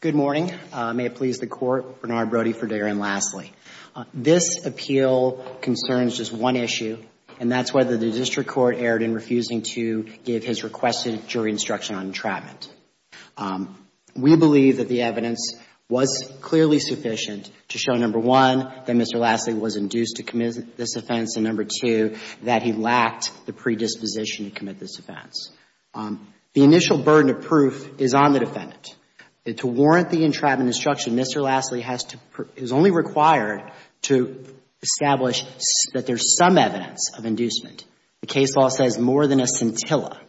Good morning. May it please the Court, Bernard Brody for Darren Lasley. This appeal concerns just one issue, and that's whether the District Court erred in refusing to give his requested jury instruction on entrapment. We believe that the evidence was clearly sufficient to show, number one, that Mr. Lasley was induced to commit this offense, and number two, that he lacked the predisposition to commit this offense. The initial burden of proof is on the defendant. To warrant the entrapment instruction, Mr. Lasley is only required to establish that there's some evidence of inducement. The case law says more than a scintilla.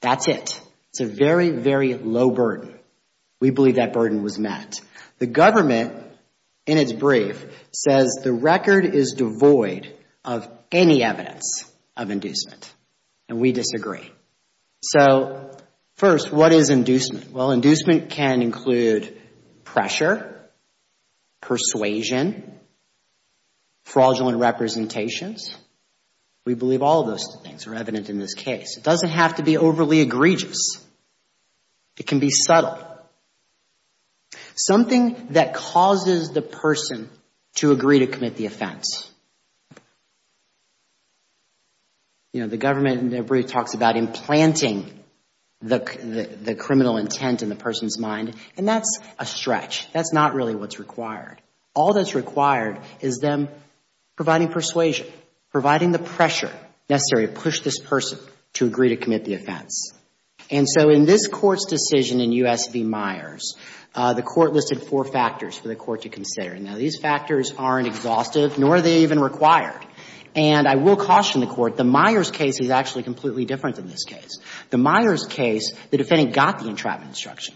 That's it. It's a very, very low burden. We believe that burden was met. The government, in its brief, says the record is devoid of any evidence of inducement, and we disagree. So, first, what is inducement? Well, inducement can include pressure, persuasion, fraudulent representations. We believe all of those things are evident in this case. It doesn't have to be overly egregious. It can be subtle. Something that causes the person to agree to commit the offense. You know, the government, in their brief, talks about implanting the criminal intent in the person's mind, and that's a stretch. That's not really what's required. All that's required is them providing persuasion, providing the pressure necessary to push this person to agree to commit the offense. And so, in this Court's decision in U.S. v. Myers, the Court listed four factors for the Court to consider. Now, these factors aren't exhaustive, nor are they even required. And I will caution the Court, the Myers case is actually completely different than this case. The Myers case, the defendant got the entrapment instruction.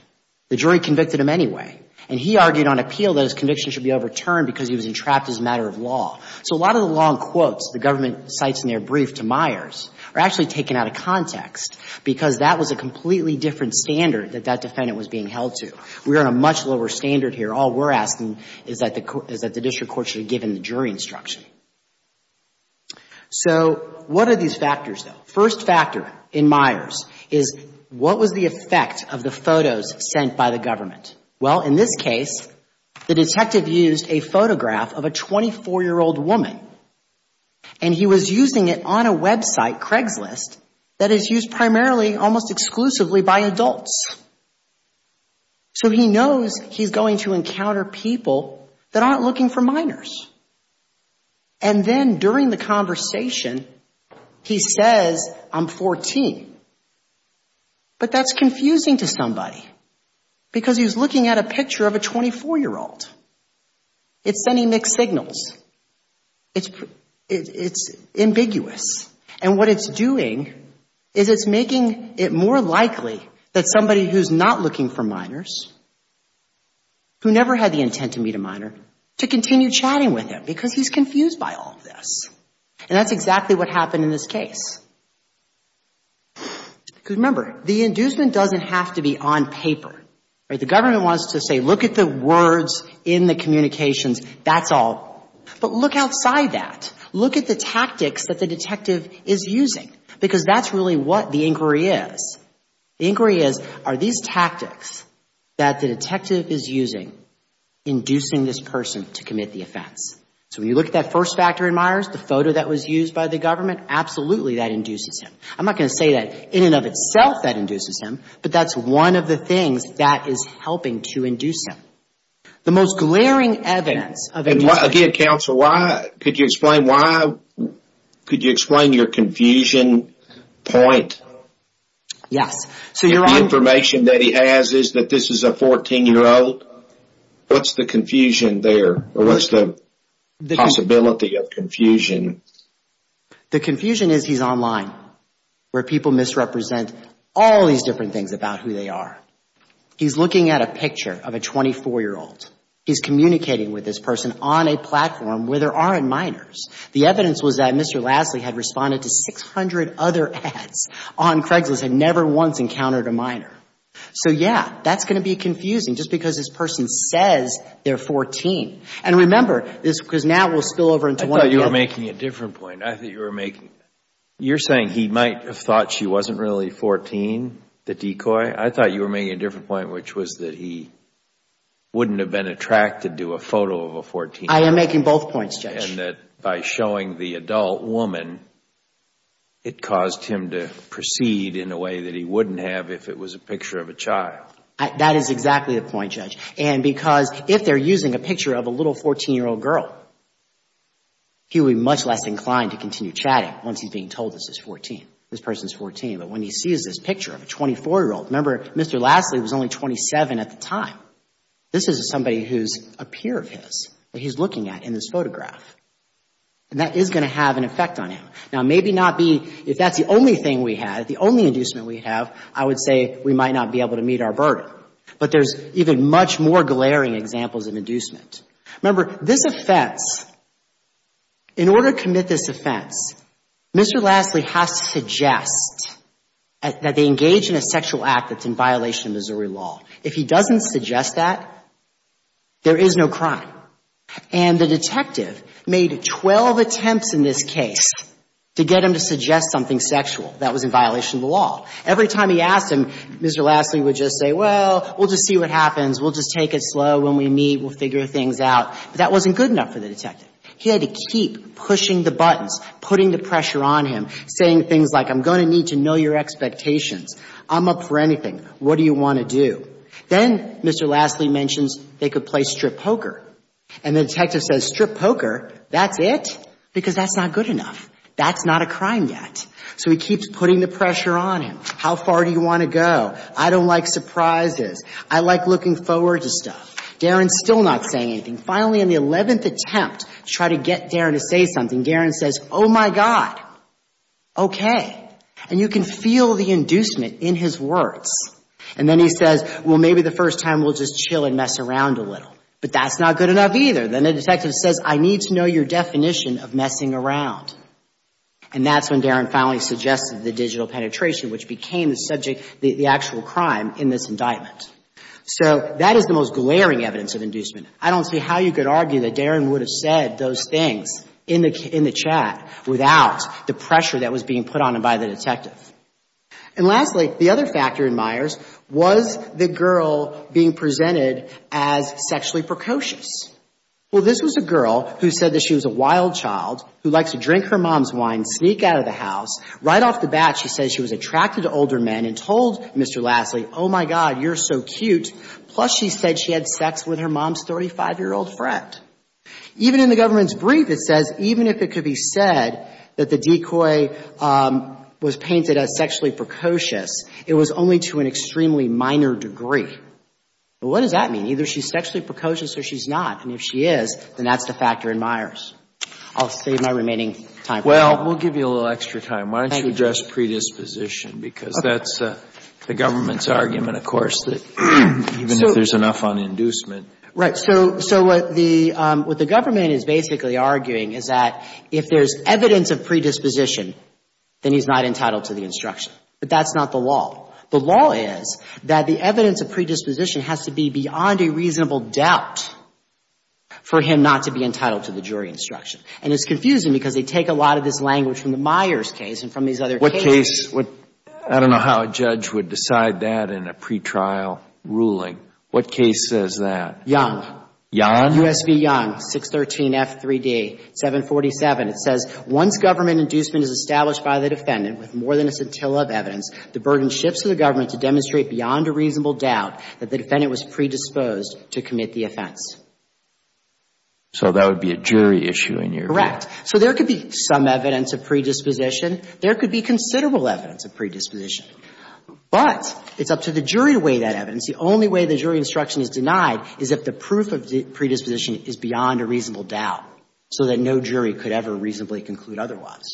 The jury convicted him anyway, and he argued on appeal that his conviction should be overturned because he was entrapped as a matter of law. So a lot of the long quotes the government cites in their brief to Myers are actually taken out of context, because that was a completely different standard that that defendant was being held to. We are on a much lower standard here. All we're asking is that the District Court should have given the jury instruction. So what are these factors, though? First factor in Myers is, what was the effect of the photos sent by the government? Well, in this case, the detective used a photograph of a 24-year-old woman, and he was using it on a website, Craigslist, that is used primarily, almost exclusively, by adults. So he knows he's going to encounter people that aren't looking for minors. And then during the conversation, he says, I'm 14. But that's confusing to somebody, because he's looking at a picture of a 24-year-old. It's sending mixed signals. It's ambiguous. And what it's doing is it's making it more likely that somebody who's not looking for minors, who never had the intent to meet a minor, to continue chatting with him, because he's confused by all of this. And that's exactly what happened in this case. Because remember, the inducement doesn't have to be on paper. The government wants to say, look at the words in the communications. That's all. But look outside that. Look at the tactics that the detective is using. Because that's really what the inquiry is. The inquiry is, are these tactics that the detective is using inducing this person to commit the offense? So when you look at that first factor in Myers, the photo that was used by the government, absolutely that induces him. I'm not going to say that in and of itself that induces him, but that's one of the things that is helping to induce him. The most glaring evidence of a... Again, counsel, could you explain why? Could you explain your confusion point? Yes. So you're on... The information that he has is that this is a 14-year-old. What's the confusion there? Or what's the possibility of confusion? The confusion is he's online, where people misrepresent all these different things about who they are. He's looking at a picture of a 24-year-old. He's communicating with this person on a platform where there aren't minors. The evidence was that Mr. Lasley had responded to 600 other ads on Craigslist and never once encountered a minor. So yeah, that's going to be confusing just because this person says they're 14. And remember, because now we'll spill over into one... I thought you were making a different point. I thought you were making... You're saying he might have thought she wasn't really 14, the decoy? I thought you were making a different point, which was that he wouldn't have been attracted to a photo of a 14-year-old. I am making both points, Judge. And that by showing the adult woman, it caused him to proceed in a way that he wouldn't have if it was a picture of a child. That is exactly the point, Judge. And because if they're using a picture of a little 14-year-old girl, he would be much less inclined to continue chatting once he's being told this is 14, this person's 14. But when he sees this picture of a 24-year-old... Remember, Mr. Lasley was only 27 at the time. This is somebody who's a peer of his that he's looking at in this photograph. And that is going to have an effect on him. Now maybe not be... If that's the only thing we have, the only inducement we have, I would say we might not be able to meet our burden. But there's even much more glaring examples of inducement. Remember, this offense, in order to commit this offense, Mr. Lasley has to suggest that they engage in a sexual act that's in violation of Missouri law. If he doesn't suggest that, there is no crime. And the detective made 12 attempts in this case to get him to suggest something sexual that was in violation of the law. Every time he asked him, Mr. Lasley would just say, well, we'll just see what happens. We'll just take it slow. When we meet, we'll figure things out. But that wasn't good enough for the detective. He had to keep pushing the buttons, putting the pressure on him, saying things like, I'm going to need to know your expectations. I'm up for anything. What do you want to do? Then Mr. Lasley mentions they could play strip poker. And the detective says, strip poker? That's it? Because that's not good enough. That's not a crime yet. So he keeps putting the pressure on him. How far do you want to go? I don't like surprises. I like looking forward to stuff. Darren's still not saying anything. Finally, in the 11th attempt to try to get Darren to say something, Darren says, oh my God. Okay. And you can feel the inducement in his words. And then he says, well, maybe the first time we'll just chill and mess around a little. But that's not good enough either. Then the detective says, I need to know your definition of messing around. And that's when the digital penetration, which became the subject, the actual crime in this indictment. So that is the most glaring evidence of inducement. I don't see how you could argue that Darren would have said those things in the chat without the pressure that was being put on him by the detective. And lastly, the other factor in Myers was the girl being presented as sexually precocious. Well, this was a girl who said that she was a wild child who likes to drink her mom's wine, sneak out of the house. Right off the bat, she says she was attracted to older men and told Mr. Lassley, oh my God, you're so cute. Plus, she said she had sex with her mom's 35-year-old friend. Even in the government's brief, it says even if it could be said that the decoy was painted as sexually precocious, it was only to an extremely minor degree. What does that mean? Either she's sexually precocious or she's not. And if she is, then that's the factor in Myers. I'll save my remaining time. Well, we'll give you a little extra time. Why don't you address predisposition? Because that's the government's argument, of course, that even if there's enough on inducement. Right. So what the government is basically arguing is that if there's evidence of predisposition, then he's not entitled to the instruction. But that's not the law. The law is that the evidence of predisposition has to be beyond a reasonable doubt for him not to be entitled to the jury instruction. And it's confusing because they take a lot of this language from the Myers case and from these other cases. What case? I don't know how a judge would decide that in a pretrial ruling. What case says that? Young. Young? U.S. v. Young, 613 F3D, 747. It says, once government inducement is established by the defendant with more than a scintilla of evidence, the burden shifts to the government to demonstrate beyond a reasonable doubt that the defendant was predisposed to commit the offense. So that would be a jury issue in your view? Correct. So there could be some evidence of predisposition. There could be considerable evidence of predisposition. But it's up to the jury to weigh that evidence. The only way the jury instruction is denied is if the proof of predisposition is beyond a reasonable doubt so that no jury could ever reasonably conclude otherwise.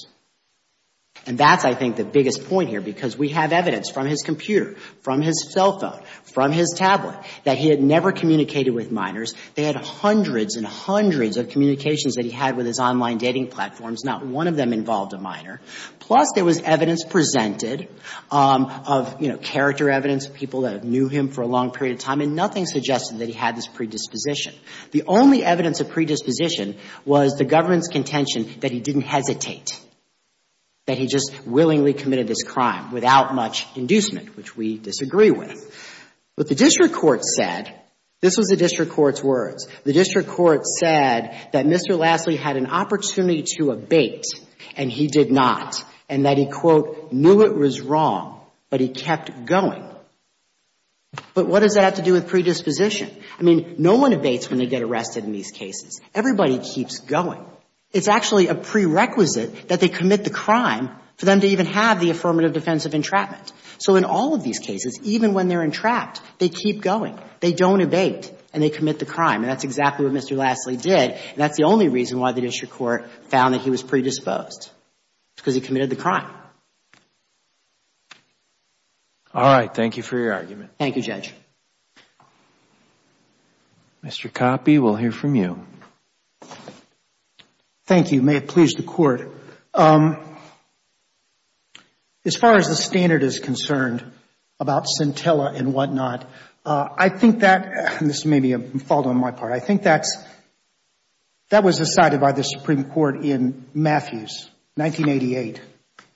And that's, I think, the biggest point here because we have evidence from his computer, his cell phone, from his tablet that he had never communicated with minors. They had hundreds and hundreds of communications that he had with his online dating platforms. Not one of them involved a minor. Plus, there was evidence presented of, you know, character evidence, people that knew him for a long period of time, and nothing suggested that he had this predisposition. The only evidence of predisposition was the government's contention that he didn't hesitate, that he just willingly committed this crime without much inducement, which we disagree with. What the district court said, this was the district court's words, the district court said that Mr. Lassley had an opportunity to abate, and he did not, and that he, quote, knew it was wrong, but he kept going. But what does that have to do with predisposition? I mean, no one abates when they get arrested in these cases. Everybody keeps going. It's actually a prerequisite that they commit the crime for them to even have the affirmative defense of entrapment. So in all of these cases, even when they're entrapped, they keep going. They don't abate, and they commit the crime, and that's exactly what Mr. Lassley did, and that's the only reason why the district court found that he was predisposed. It's because he committed the crime. All right. Thank you for your argument. Thank you, Judge. Mr. Coppe, we'll hear from you. Thank you. May it please the Court. As far as the standard is concerned about scintilla and whatnot, I think that, and this may be a fault on my part, I think that was decided by the Supreme Court in Matthews, 1988,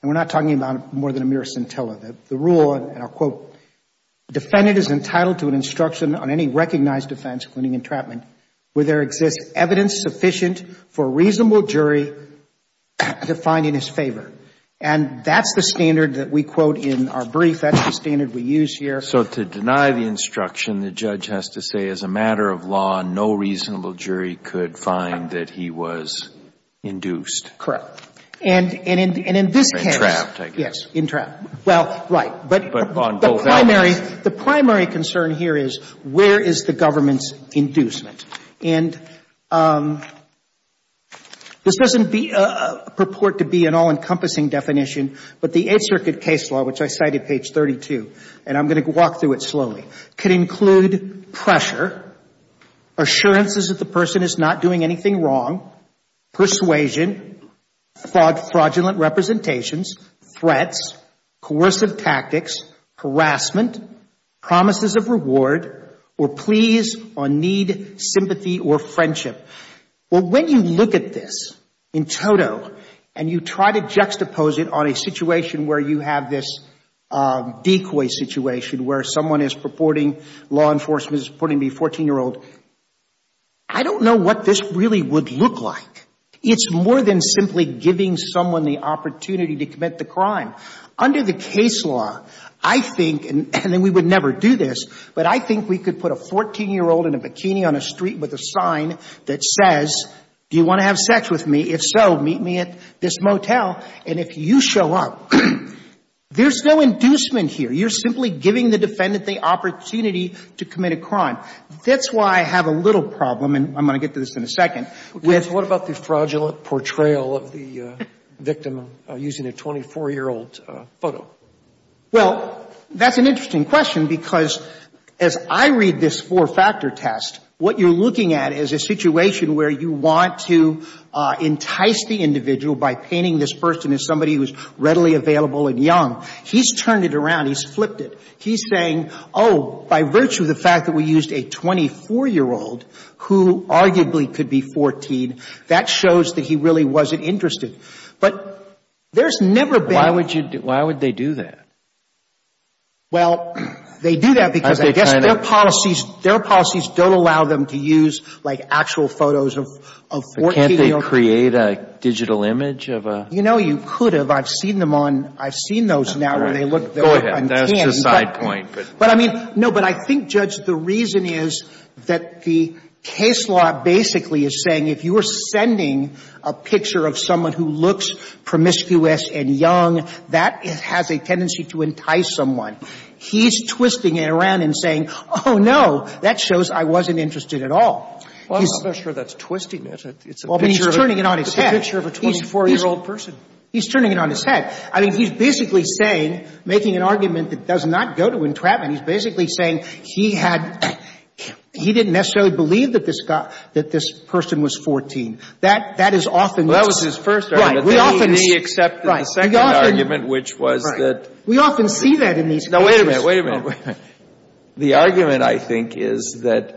and we're not talking about more than a mere scintilla. The rule, and I'll quote, defendant is entitled to an instruction on any recognized offense, including entrapment, where there exists evidence sufficient for a reasonable jury to find in his favor. And that's the standard that we quote in our brief. That's the standard we use here. So to deny the instruction, the judge has to say, as a matter of law, no reasonable jury could find that he was induced. Correct. And in this case… Entrapped, I guess. Yes, entrapped. Well, right, but the primary concern here is, where is the government's inducement? And this doesn't purport to be an all-encompassing definition, but the Eighth Circuit case law, which I cited, page 32, and I'm going to walk through it slowly, can include pressure, assurances that the person is not doing anything wrong, persuasion, fraudulent representations, threats, coercive tactics, harassment, promises of reward, or pleas on need, sympathy, or friendship. Well, when you look at this in total, and you try to juxtapose it on a situation where you have this decoy situation, where someone is purporting, law enforcement is purporting to be a 14-year-old, I don't know what this really would look like. It's more than simply giving someone the opportunity to commit the crime. Under the case law, I think, and we would never do this, but I think we could put a 14-year-old in a bikini on a street with a sign that says, do you want to have sex with me? If so, meet me at this motel. And if you show up, there's no inducement here. You're That's why I have a little problem, and I'm going to get to this in a second, with What about the fraudulent portrayal of the victim using a 24-year-old photo? Well, that's an interesting question, because as I read this four-factor test, what you're looking at is a situation where you want to entice the individual by painting this person as somebody who's readily available and young. He's turned it around. He's flipped it. He's saying, oh, by virtue of the fact that we used a 24-year-old who arguably could be 14, that shows that he really wasn't interested. But there's never been Why would you, why would they do that? Well, they do that because I guess their policies, their policies don't allow them to use, like, actual photos of 14-year-olds Can't they create a digital image of a You know, you could have. I've seen them on, I've seen those now where they look Go ahead. That's just a side point. But I mean, no, but I think, Judge, the reason is that the case law basically is saying if you are sending a picture of someone who looks promiscuous and young, that has a tendency to entice someone. He's twisting it around and saying, oh, no, that shows I wasn't interested at all. Well, I'm not sure that's twisting it. It's a picture of Well, but he's turning it on his head. It's a picture of a 24-year-old person. He's turning it on his head. I mean, he's basically saying, making an argument that does not go to entrapment. He's basically saying he had, he didn't necessarily believe that this person was 14. That is often what's Well, that was his first argument. Right. We often He accepted the second argument, which was that We often see that in these cases Now, wait a minute, wait a minute. The argument, I think, is that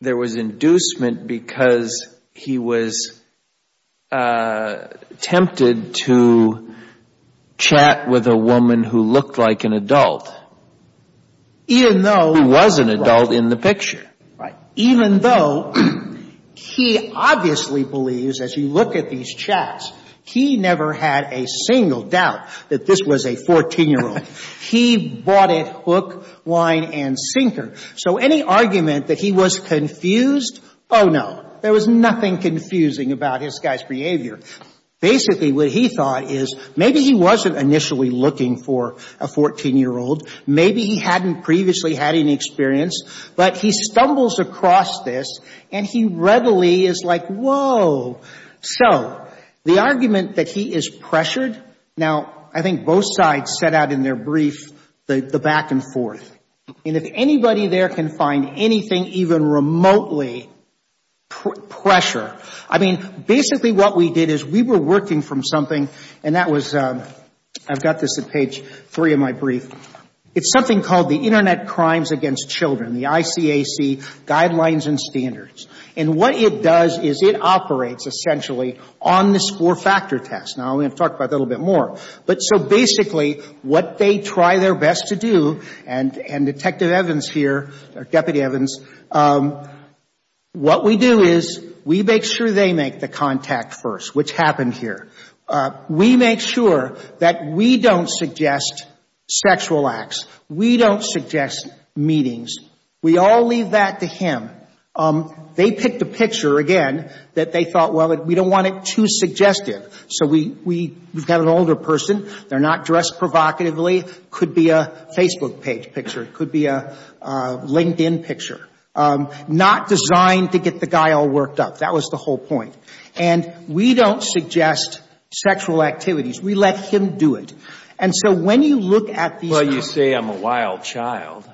there was inducement because he was tempted to chat with a woman who looked like an adult, who was an adult in the picture. Right. Even though he obviously believes, as you look at these chats, he never had a single doubt that this was a 14-year-old. He bought it hook, line, and sinker. So any argument that he was confused, oh, no. There was nothing confusing about this guy's behavior. Basically, what he thought is maybe he wasn't initially looking for a 14-year-old. Maybe he hadn't previously had any experience. But he stumbles across this, and he readily is like, whoa. So the argument that he is pressured, now, I think both sides set out in their brief the back and forth. And if anybody there can find anything even remotely pressure, I mean, basically what we did is we were working from something, and that was, I've got this at page three of my brief. It's something called the Internet Crimes Against Children, the ICAC Guidelines and Standards. And what it does is it operates, essentially, on this four-factor test. Now, I'm going to talk about that a little bit more. But so basically, what they try their best to do, and Detective Evans here, or Deputy Evans, what we do is we make sure they make the contact first, which happened here. We make sure that we don't suggest sexual acts. We don't suggest meetings. We all leave that to him. They picked a picture, again, that they thought, well, we don't want it too suggestive. So we've got an older person. They're not dressed provocatively. Could be a Facebook page picture. It could be a LinkedIn picture. Not designed to get the guy all worked up. That was the whole point. And we don't suggest sexual activities. We let him do it. And so when you look at these. Well, you say I'm a wild child.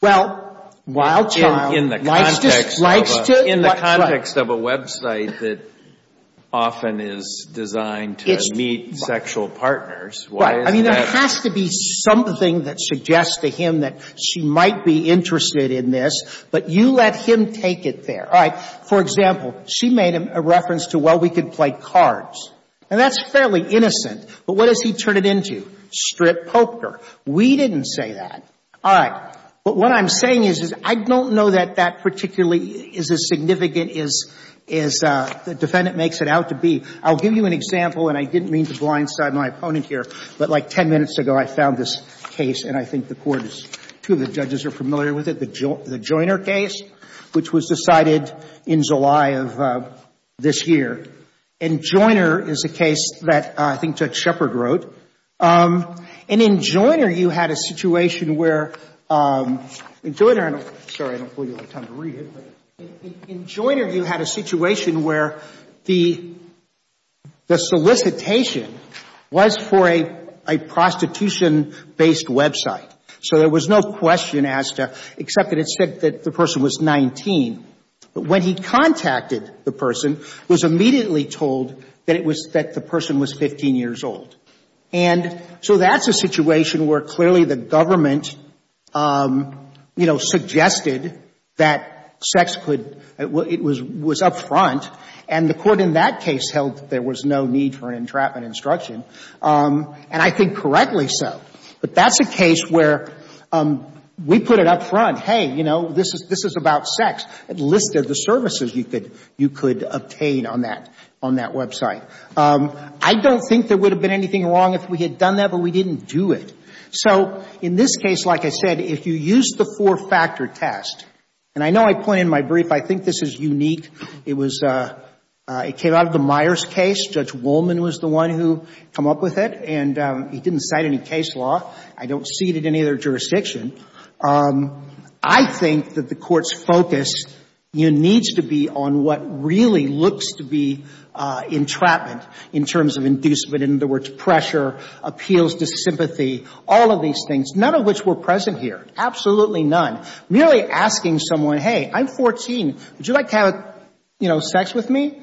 Well, wild child. In the context of a website that often is designed to meet sexual partners. Right. I mean, there has to be something that suggests to him that she might be interested in this. But you let him take it there. All right. For example, she made a reference to, well, we could play cards. And that's fairly innocent. But what does he turn it into? Strip poker. We didn't say that. All right. But what I'm saying is I don't know that that particularly is as significant as the defendant makes it out to be. I'll give you an example. And I didn't mean to blindside my opponent here. But like 10 minutes ago, I found this case. And I think the court is, two of the judges are familiar with it. The Joiner case, which was decided in July of this year. And Joiner is a case that I think Judge Shepard wrote. And in Joiner, you had a situation where, in Joiner, sorry, I don't believe I have time to read it. But in Joiner, you had a situation where the solicitation was for a prostitution-based website. So there was no question asked except that it said that the person was 19. But when he contacted the person, was immediately told that it was, that the person was 15 years old. And so that's a situation where clearly the government, you know, suggested that sex could, it was up front. And the court in that case held there was no need for an entrapment instruction. And I think correctly so. But that's a case where we put it up front, hey, you know, this is about sex. It listed the services you could obtain on that website. I don't think there would have been anything wrong if we had done that, but we didn't do it. So in this case, like I said, if you use the four-factor test, and I know I point in my brief, I think this is unique. It was, it came out of the Myers case. Judge Wolman was the one who came up with it. And he didn't cite any case law. I don't see it in any other jurisdiction. I think that the court's focus needs to be on what really looks to be entrapment in terms of inducement, in other words, pressure, appeals to sympathy, all of these things, none of which were present here, absolutely none. Merely asking someone, hey, I'm 14, would you like to have, you know, sex with me?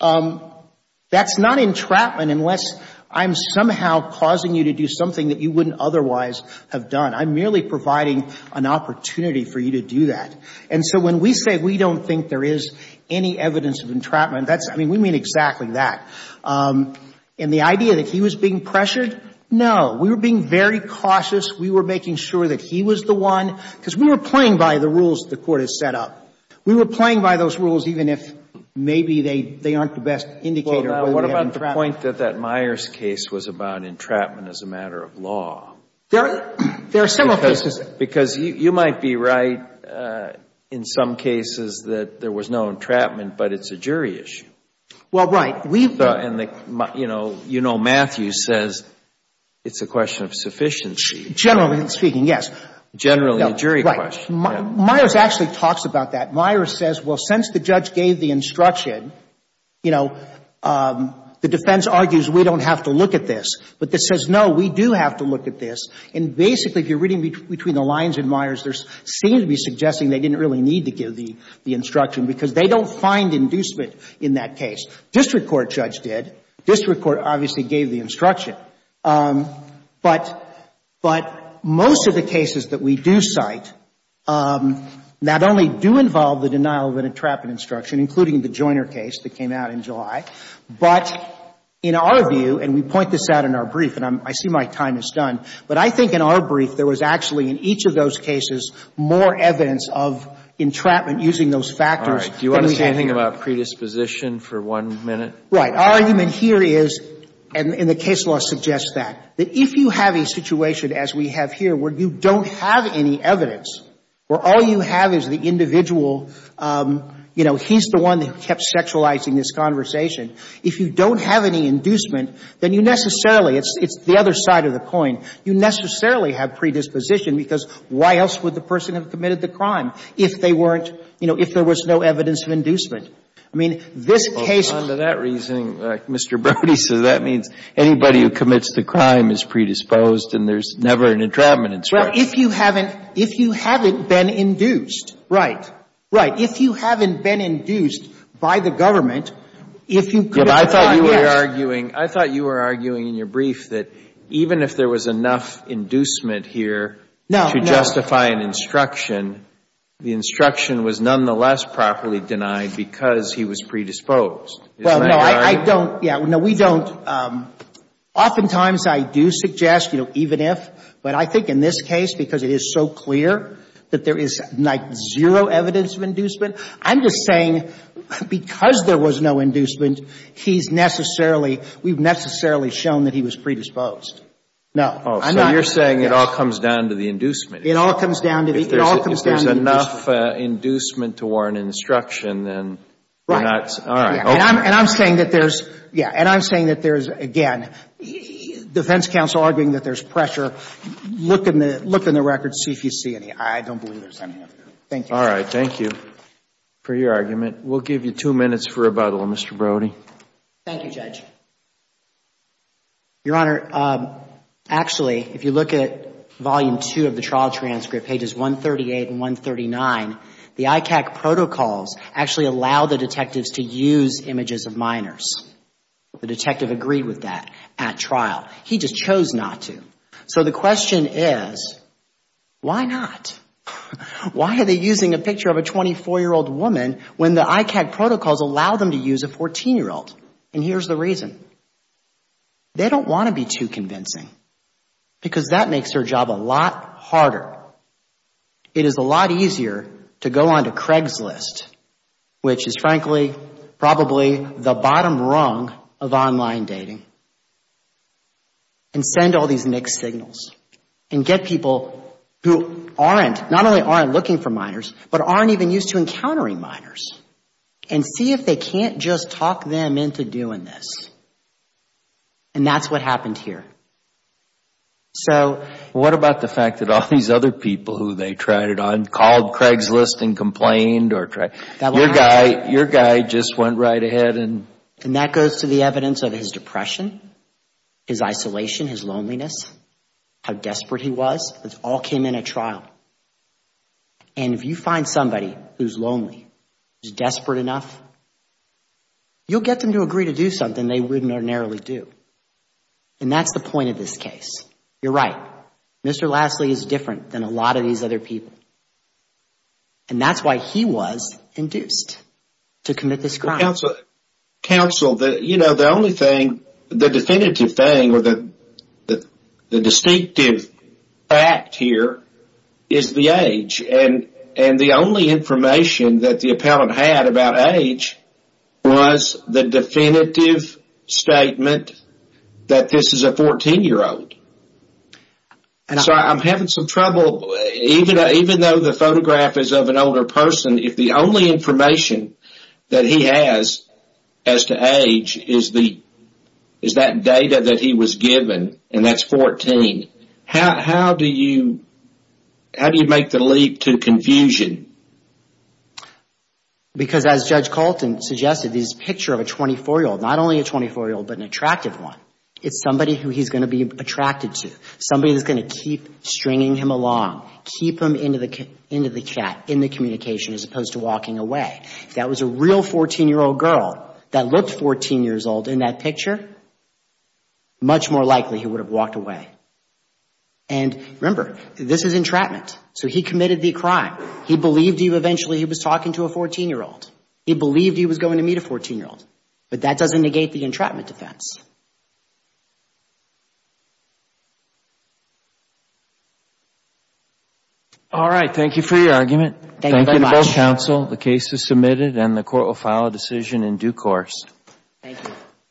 That's not entrapment unless I'm somehow causing you to do something that you wouldn't otherwise have done. I'm merely providing an opportunity for you to do that. And so when we say we don't think there is any evidence of entrapment, that's, I mean, we mean exactly that. And the idea that he was being pressured, no. We were being very cautious. We were making sure that he was the one, because we were playing by the rules the court has set up. We were playing by those rules even if maybe they aren't the best indicator of whether we have entrapment. Well, what about the point that that Myers case was about entrapment as a matter of law? There are several cases. Because you might be right in some cases that there was no entrapment, but it's a jury issue. Well, right. And, you know, Matthew says it's a question of sufficiency. Generally speaking, yes. Generally a jury question. Myers actually talks about that. Myers says, well, since the judge gave the instruction, you know, the defense argues we don't have to look at this. But this says, no, we do have to look at this. And basically, if you're reading between the lines in Myers, there seems to be suggesting they didn't really need to give the instruction, because they don't find inducement in that case. District court judge did. District court obviously gave the instruction. But most of the cases that we do cite not only do involve the denial of an entrapment instruction, including the Joiner case that came out in July, but in our view, and we point this out in our brief, and I see my time is done, but I think in our brief there was actually in each of those cases more evidence of entrapment using those factors than we have here. Do you want to say anything about predisposition for one minute? Right. Our argument here is, and the case law suggests that, that if you have a situation as we have here where you don't have any evidence, where all you have is the individual, you know, he's the one that kept sexualizing this conversation, if you don't have any inducement, then you necessarily, it's the other side of the coin, you necessarily have predisposition, because why else would the person have committed the crime if they weren't, you know, if there was no evidence of inducement? Well, you're using Mr. Brody, so that means anybody who commits the crime is predisposed and there's never an entrapment instruction. Well, if you haven't been induced, right, right. If you haven't been induced by the government, if you could have gotten, yes. I thought you were arguing in your brief that even if there was enough inducement here to justify an instruction, the instruction was nonetheless properly denied because he was predisposed. Isn't that correct? I don't, yeah, no, we don't, oftentimes I do suggest, you know, even if, but I think in this case, because it is so clear that there is, like, zero evidence of inducement, I'm just saying because there was no inducement, he's necessarily, we've necessarily shown that he was predisposed. No, I'm not. Oh, so you're saying it all comes down to the inducement. It all comes down to the, it all comes down to the inducement. If there's enough inducement to warrant instruction, then we're not, all right. And I'm saying that there's, yeah, and I'm saying that there's, again, defense counsel arguing that there's pressure. Look in the, look in the records, see if you see any. I don't believe there's any of that. Thank you. All right, thank you for your argument. We'll give you two minutes for rebuttal, Mr. Brody. Thank you, Judge. Your Honor, actually, if you look at volume two of the trial transcript, pages 138 and 139, it uses images of minors. The detective agreed with that at trial. He just chose not to. So the question is, why not? Why are they using a picture of a 24-year-old woman when the ICAG protocols allow them to use a 14-year-old? And here's the reason. They don't want to be too convincing because that makes their job a lot harder. It is a lot easier to go on to Craigslist, which is, frankly, probably the bottom rung of online dating, and send all these mixed signals, and get people who aren't, not only aren't looking for minors, but aren't even used to encountering minors, and see if they can't just talk them into doing this. And that's what happened here. So... What about the fact that all these other people who they tried it on called Craigslist and complained? Your guy just went right ahead and... And that goes to the evidence of his depression, his isolation, his loneliness, how desperate he was. It all came in at trial. And if you find somebody who's lonely, who's desperate enough, you'll get them to agree to do something they wouldn't ordinarily do. And that's the point of this case. You're right. Mr. Lassley is different than a lot of these other people. And that's why he was induced to commit this crime. Counsel, the only thing, the definitive thing, or the distinctive fact here, is the age. And the only information that the appellant had about age was the definitive statement that this is a 14-year-old. And so I'm having some trouble, even though the photograph is of an older person, if the only information that he has as to age is that data that he was given, and that's 14, how do you make the leap to confusion? Because as Judge Colton suggested, this picture of a 24-year-old, not only a 24-year-old, but an attractive one, it's somebody who he's going to be attracted to, somebody that's going to keep stringing him along, keep him in the communication as opposed to walking away. If that was a real 14-year-old girl that looked 14 years old in that picture, much more likely he would have walked away. And remember, this is entrapment. So he committed the crime. He believed he eventually was talking to a 14-year-old. He believed he was going to meet a 14-year-old. But that doesn't negate the entrapment defense. All right. Thank you for your argument. Thank you very much. Thank you both, counsel. The case is submitted and the court will file a decision in due course. Thank you.